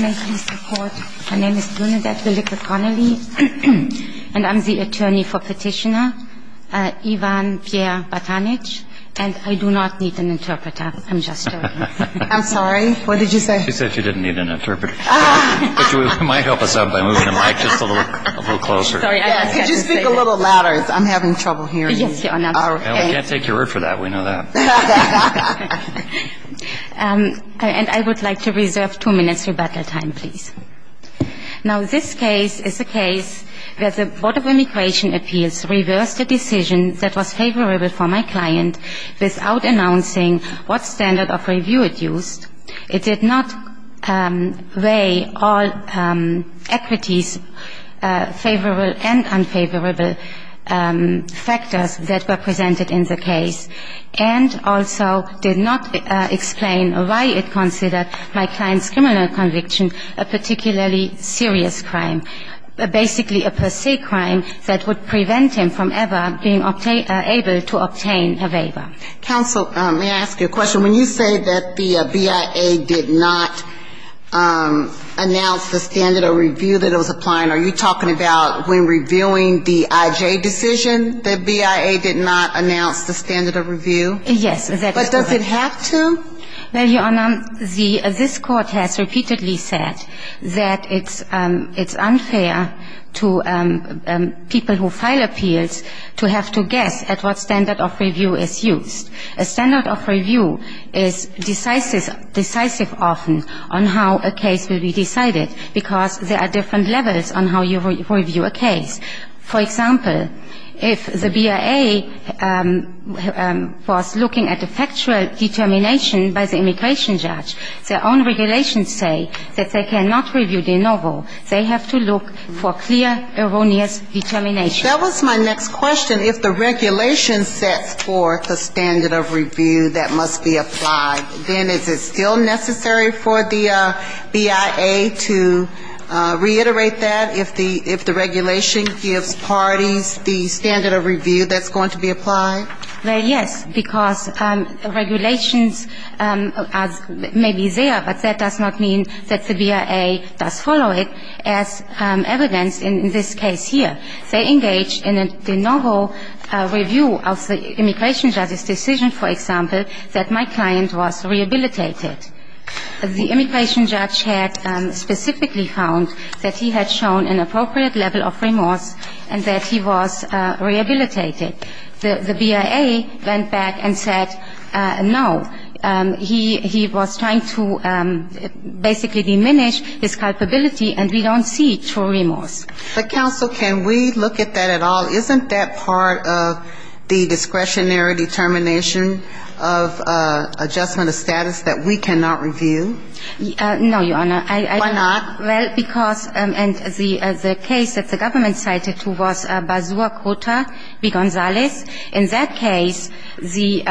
My name is Bernadette Willick-McConnelly, and I'm the attorney for Petitioner Ivan Pierre Batinic, and I do not need an interpreter. I'm just joking. I'm sorry. What did you say? She said she didn't need an interpreter, which might help us out by moving the mic just a little closer. Could you speak a little louder? I'm having trouble hearing you. We can't take your word for that. We know that. And I would like to reserve two minutes for battle time, please. Now, this case is a case where the Board of Immigration Appeals reversed a decision that was favorable for my client without announcing what standard of review it used. It did not weigh all equities favorable and unfavorable factors that were presented in the case, and also did not explain why it considered my client's criminal conviction a particularly serious crime, basically a perceived crime that would prevent him from ever being able to obtain a waiver. Counsel, may I ask you a question? When you say that the BIA did not announce the standard of review that it was applying, when reviewing the IJ decision, the BIA did not announce the standard of review? Yes. But does it have to? Well, Your Honor, this court has repeatedly said that it's unfair to people who file appeals to have to guess at what standard of review is used. A standard of review is decisive often on how a case will be decided, because there are different levels on how you review a case. For example, if the BIA was looking at the factual determination by the immigration judge, their own regulations say that they cannot review de novo. They have to look for clear, erroneous determination. That was my next question. If the regulation sets forth a standard of review that must be applied, then is it still necessary for the BIA to reiterate that if the regulation gives parties the standard of review that's going to be applied? Well, yes, because regulations may be there, but that does not mean that the BIA does follow it as evidence in this case here. They engage in a de novo review of the immigration judge's decision, for example, that my client was a The immigration judge had specifically found that he had shown an appropriate level of remorse and that he was rehabilitated. The BIA went back and said no. He was trying to basically diminish his culpability, and we don't see true remorse. But, counsel, can we look at that at all? Isn't that part of the discretionary determination of adjustment of status that we cannot review? No, Your Honor. Why not? Well, because the case that the government cited was Bazua-Cota v. Gonzales. In that case, the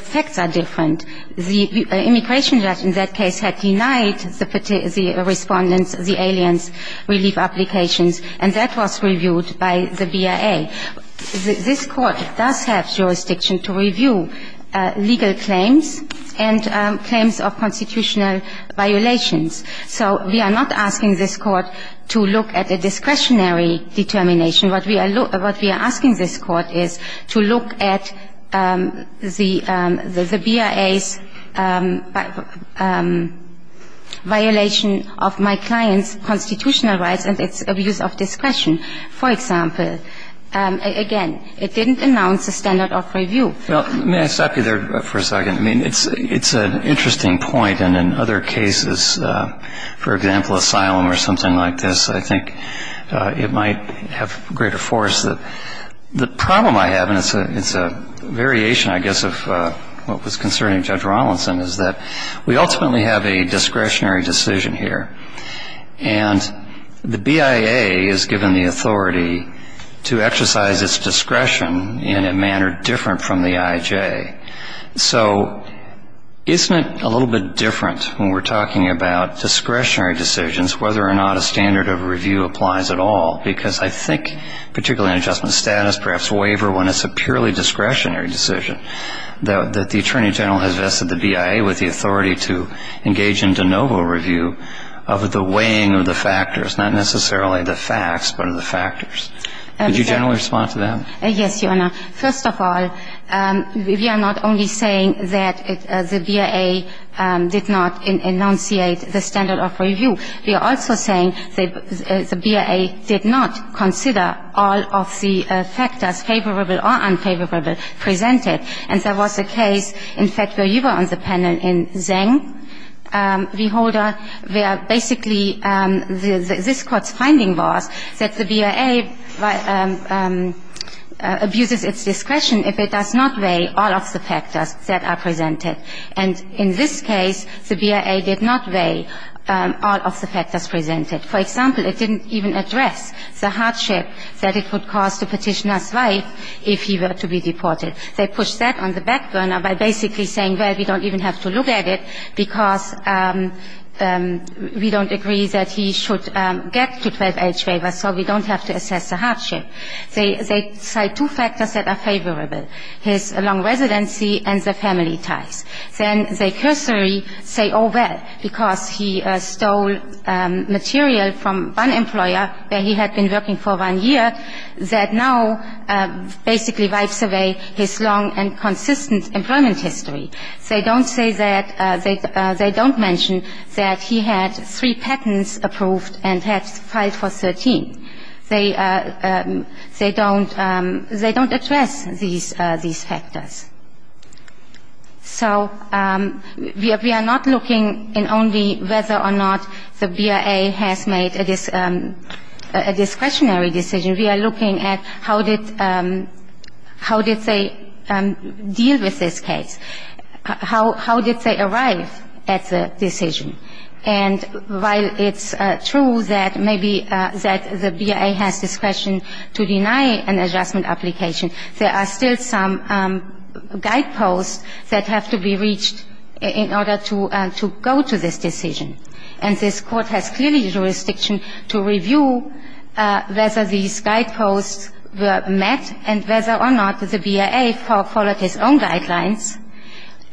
facts are different. The immigration judge in that case had denied the respondents the aliens relief applications, and that was reviewed by the BIA. This Court does have jurisdiction to review legal claims and claims of constitutional violations. So we are not asking this Court to look at a discretionary determination. What we are asking this Court is to look at the BIA's violation of my client's constitutional rights and its abuse of discretion, for example. Again, it didn't announce a standard of review. May I stop you there for a second? I mean, it's an interesting point. And in other cases, for example, asylum or something like this, I think it might have greater force. The problem I have, and it's a variation, I guess, of what was concerning Judge Robinson, is that we ultimately have a discretionary decision here. And the BIA is given the authority to exercise its discretion in a manner different from the IJ. So isn't it a little bit different when we're talking about discretionary decisions, whether or not a standard of review applies at all? Because I think, particularly in adjustment of status, perhaps waiver when it's a purely discretionary decision, that the Attorney General has vested the BIA with the authority to engage in de novo review of the weighing of the factors, not necessarily the facts, but of the factors. Could you generally respond to that? Yes, Your Honor. First of all, we are not only saying that the BIA did not enunciate the standard of review. We are also saying the BIA did not consider all of the factors favorable or unfavorable presented. And there was a case, in fact, where you were on the panel in Zeng, V. Holder, where basically this Court's finding was that the BIA abuses its discretion if it does not weigh all of the factors that are presented. And in this case, the BIA did not weigh all of the factors presented. For example, it didn't even address the hardship that it would cause to Petitioner Zweig if he were to be deported. They pushed that on the back burner by basically saying, well, we don't even have to look at it because we don't agree that he should get to 12-H waiver, so we don't have to assess the hardship. They cite two factors that are favorable, his long residency and the family ties. Then they cursory say, oh, well, because he stole material from one employer where he had been working for one year that now basically wipes away his long and consistent employment history. They don't say that they don't mention that he had three patents approved and had filed for 13. They don't address these factors. So we are not looking in only whether or not the BIA has made a discretionary decision. We are looking at how did they deal with this case? How did they arrive at the decision? And while it's true that maybe the BIA has discretion to deny an adjustment application, there are still some guideposts that have to be reached in order to go to this decision. And this Court has clearly jurisdiction to review whether these guideposts were met and whether or not the BIA followed his own guidelines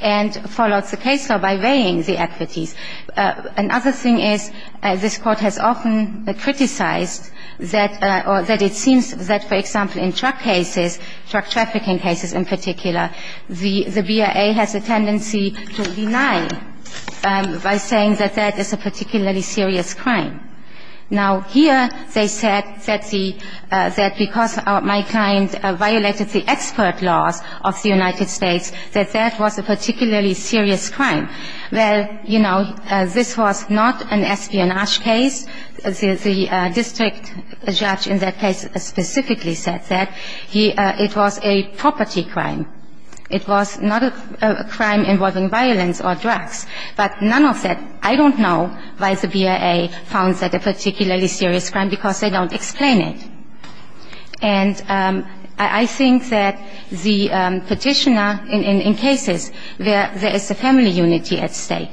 and followed the case law by weighing the equities. Another thing is this Court has often criticized that or that it seems that, for example, in drug cases, drug trafficking cases in particular, the BIA has a tendency to deny by saying that that is a particularly serious crime. Now, here they said that because my client violated the expert laws of the United States, that that was a particularly serious crime. Well, you know, this was not an espionage case. The district judge in that case specifically said that it was a property crime. It was not a crime involving violence or drugs. But none of that, I don't know why the BIA found that a particularly serious crime because they don't explain it. And I think that the petitioner in cases where there is a family unity at stake,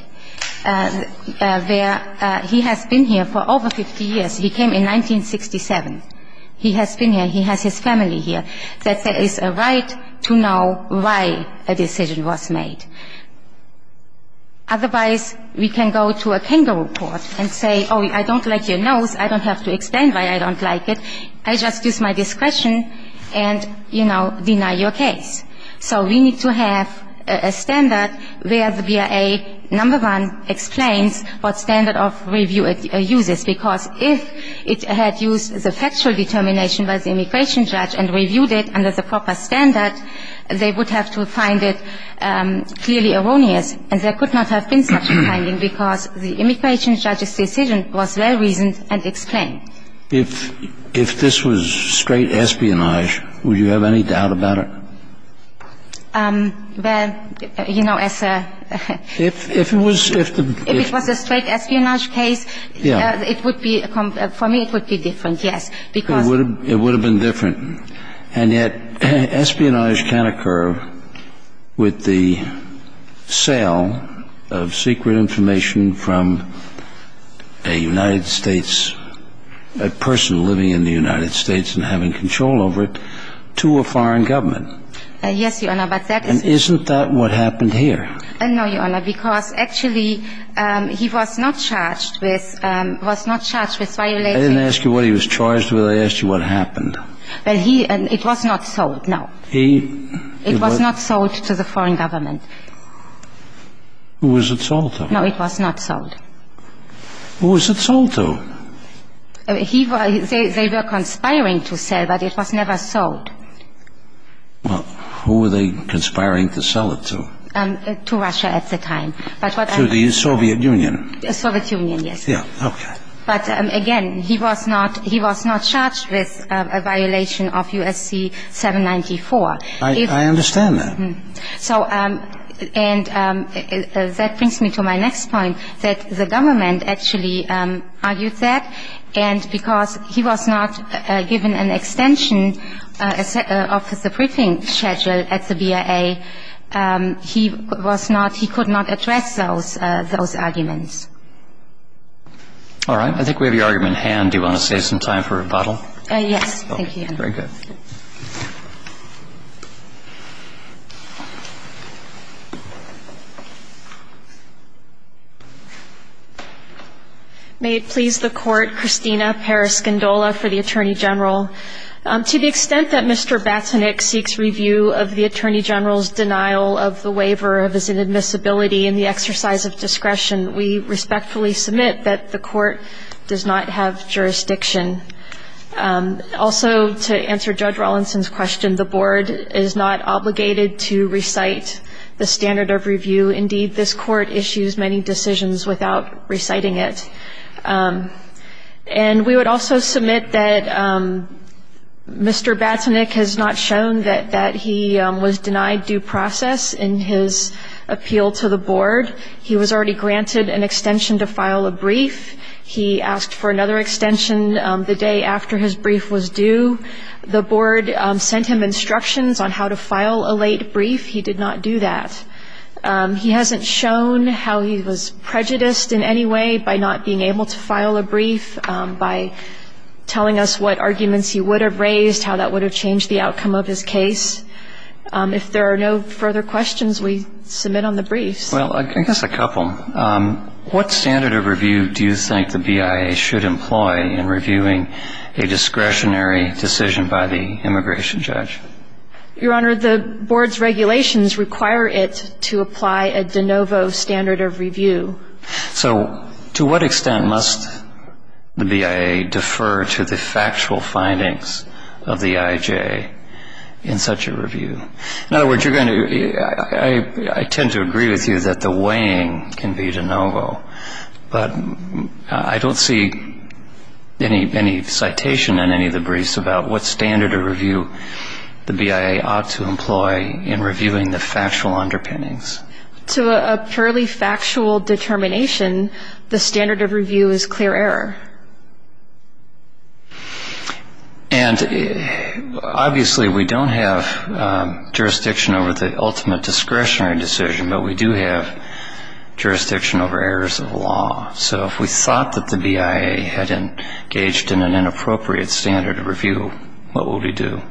where he has been here for over 50 years, he came in 1967, he has been here, he has his family here, that there is a right to know why a decision was made. Otherwise, we can go to a kangaroo court and say, oh, I don't like your nose. I don't have to explain why I don't like it. I just use my discretion and, you know, deny your case. So we need to have a standard where the BIA, number one, explains what standard of review it uses, because if it had used the factual determination by the immigration judge and reviewed it under the proper standard, they would have to find it clearly erroneous. And there could not have been such a finding because the immigration judge's decision was very reasoned and explained. If this was straight espionage, would you have any doubt about it? Well, you know, as a ‑‑ If it was ‑‑ If it was a straight espionage case, it would be, for me, it would be different, yes. Because ‑‑ It would have been different. And yet espionage can occur with the sale of secret information from a United States, a person living in the United States and having control over it, to a foreign government. Yes, Your Honor, but that is ‑‑ And isn't that what happened here? No, Your Honor, because actually he was not charged with violating ‑‑ I didn't ask you what he was charged with. I asked you what happened. Well, he ‑‑ it was not sold, no. He ‑‑ It was not sold to the foreign government. Who was it sold to? No, it was not sold. Who was it sold to? He was ‑‑ they were conspiring to sell, but it was never sold. Well, who were they conspiring to sell it to? To Russia at the time. To the Soviet Union? Soviet Union, yes. Yeah, okay. But, again, he was not ‑‑ he was not charged with a violation of U.S.C. 794. I understand that. So, and that brings me to my next point, that the government actually argued that, and because he was not given an extension of the briefing schedule at the BIA, he was not ‑‑ he could not address those arguments. All right. I think we have your argument in hand. Do you want to save some time for rebuttal? Yes. Thank you. Very good. May it please the Court, Christina Paraskindola for the Attorney General. To the extent that Mr. Batsonik seeks review of the Attorney General's denial of the waiver of his inadmissibility and the exercise of discretion, we respectfully submit that the Court does not have jurisdiction. Also, to answer Judge Rawlinson's question, the Board is not obligated to recite the standard of review. Indeed, this Court issues many decisions without reciting it. And we would also submit that Mr. Batsonik has not shown that he was denied due process in his appeal to the Board. He was already granted an extension to file a brief. He asked for another extension the day after his brief was due. The Board sent him instructions on how to file a late brief. He did not do that. He hasn't shown how he was prejudiced in any way by not being able to file a brief, by telling us what arguments he would have raised, how that would have changed the outcome of his case. If there are no further questions, we submit on the briefs. Well, I guess a couple. What standard of review do you think the BIA should employ in reviewing a discretionary decision by the immigration judge? Your Honor, the Board's regulations require it to apply a de novo standard of review. So to what extent must the BIA defer to the factual findings of the IJA in such a review? In other words, I tend to agree with you that the weighing can be de novo. But I don't see any citation in any of the briefs about what standard of review the BIA ought to employ in reviewing the factual underpinnings. To a purely factual determination, the standard of review is clear error. And obviously we don't have jurisdiction over the ultimate discretionary decision, but we do have jurisdiction over errors of law. So if we thought that the BIA had engaged in an inappropriate standard of review, what would we do?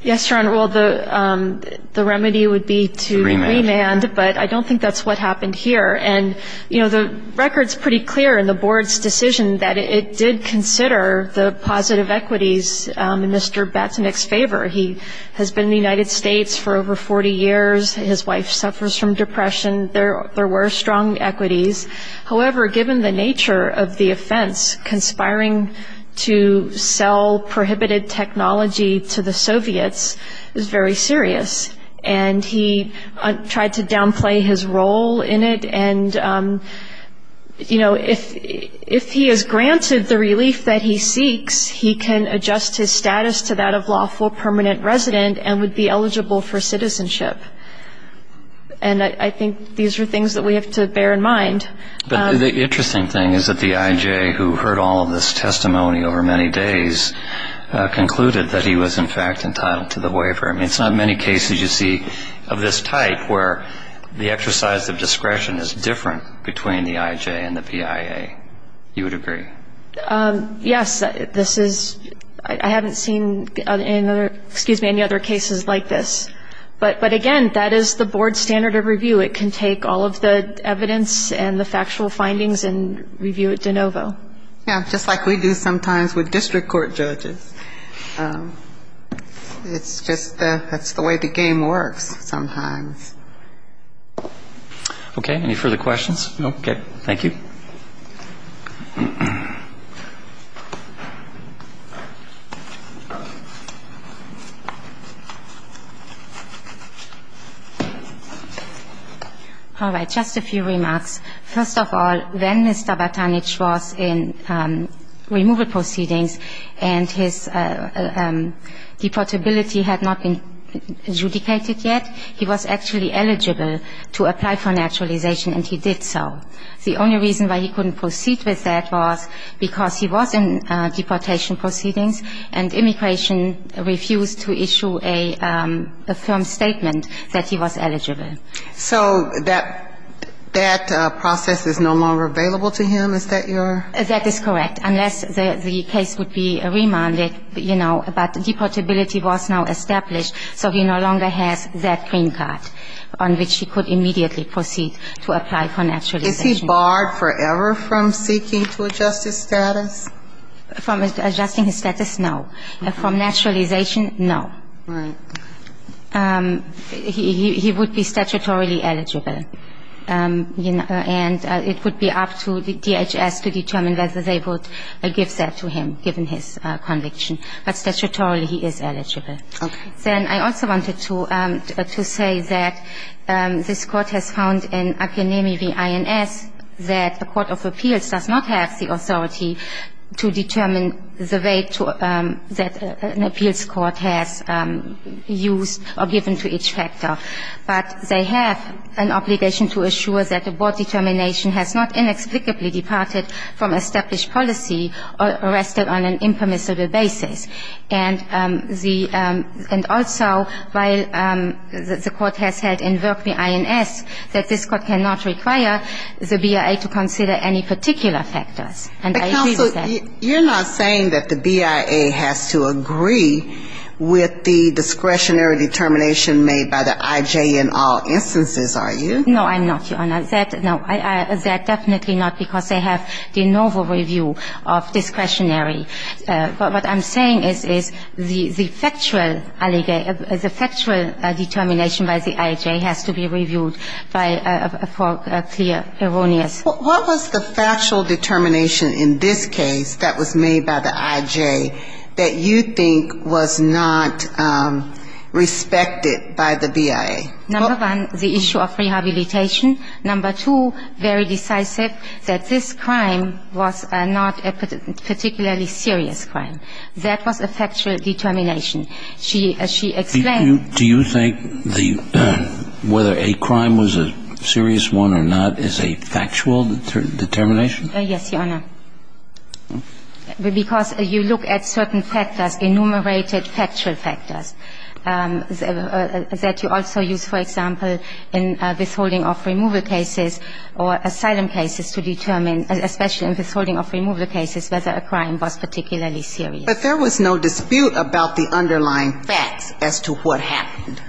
Yes, Your Honor, well, the remedy would be to remand, but I don't think that's what happened here. And, you know, the record's pretty clear in the Board's decision that it did consider the positive equities in Mr. Batinick's favor. He has been in the United States for over 40 years, his wife suffers from depression, there were strong equities. However, given the nature of the offense, conspiring to sell prohibited technology to the Soviets is very serious. And he tried to downplay his role in it, and, you know, if he is granted the relief that he seeks, he can adjust his status to that of lawful permanent resident and would be eligible for citizenship. And I think these are things that we have to bear in mind. But the interesting thing is that the IJ, who heard all of this testimony over many days, concluded that he was, in fact, entitled to the waiver. I mean, it's not many cases you see of this type where the exercise of discretion is different between the IJ and the BIA. You would agree? Yes. This is, I haven't seen any other, excuse me, any other cases like this. But, again, that is the Board's standard of review. It can take all of the evidence and the factual findings and review it de novo. Yeah, just like we do sometimes with district court judges. It's just that's the way the game works sometimes. Okay. Any further questions? No. Okay. Thank you. All right. Just a few remarks. First of all, when Mr. Batanich was in removal proceedings and his deportability had not been adjudicated yet, he was actually eligible to apply for naturalization, and he did so. The only reason why he couldn't proceed with that was because he was in deportation proceedings and immigration refused to issue a firm statement that he was eligible. So that process is no longer available to him? Is that your? That is correct. Unless the case would be remanded, you know, but deportability was now established, so he no longer has that green card on which he could immediately proceed to apply for naturalization. Is he barred forever from seeking to adjust his status? From adjusting his status? No. From naturalization? No. Right. He would be statutorily eligible, and it would be up to the DHS to determine whether they would give that to him, given his conviction. But statutorily, he is eligible. Okay. Then I also wanted to say that this Court has found in Akanemi v. INS that the Court of Appeals does not have the authority to determine the way that an appeals court has used or given to each factor. But they have an obligation to assure that the board determination has not inexplicably departed from established policy or rested on an impermissible basis. And the – and also, while the Court has had in Verkney, INS, that this Court cannot require the BIA to consider any particular factors. And I agree with that. But, counsel, you're not saying that the BIA has to agree with the discretionary determination made by the I.J. in all instances, are you? No, I'm not, Your Honor. That – no. That definitely not, because they have the novel review of discretionary. But what I'm saying is, is the factual determination by the I.J. has to be reviewed for clear erroneous. What was the factual determination in this case that was made by the I.J. that you think was not respected by the BIA? Number one, the issue of rehabilitation. Number two, very decisive, that this crime was not a particularly serious crime. That was a factual determination. She – she explained. Do you think the – whether a crime was a serious one or not is a factual determination? Yes, Your Honor. Because you look at certain factors, enumerated factual factors, that you also use, for example, in withholding of removal cases or asylum cases to determine, especially in withholding of removal cases, whether a crime was particularly serious. But there was no dispute about the underlying facts as to what happened.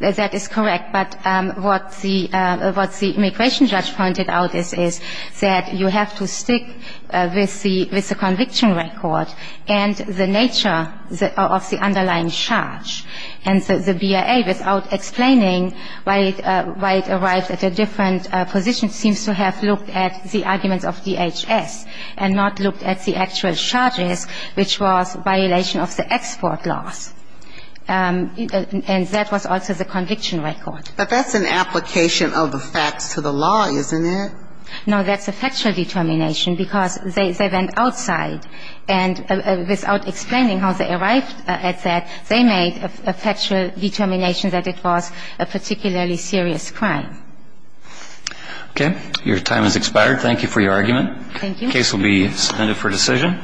That is correct. But what the – what the immigration judge pointed out is, is that you have to stick with the – with the conviction record and the nature of the underlying charge. And the BIA, without explaining why it – why it arrived at a different position, seems to have looked at the arguments of DHS and not looked at the actual charges, which was violation of the export laws. And that was also the conviction record. But that's an application of the facts to the law, isn't it? No, that's a factual determination, because they went outside. And without explaining how they arrived at that, they made a factual determination that it was a particularly serious crime. Okay. Your time has expired. Thank you for your argument. Thank you. The case will be suspended for decision.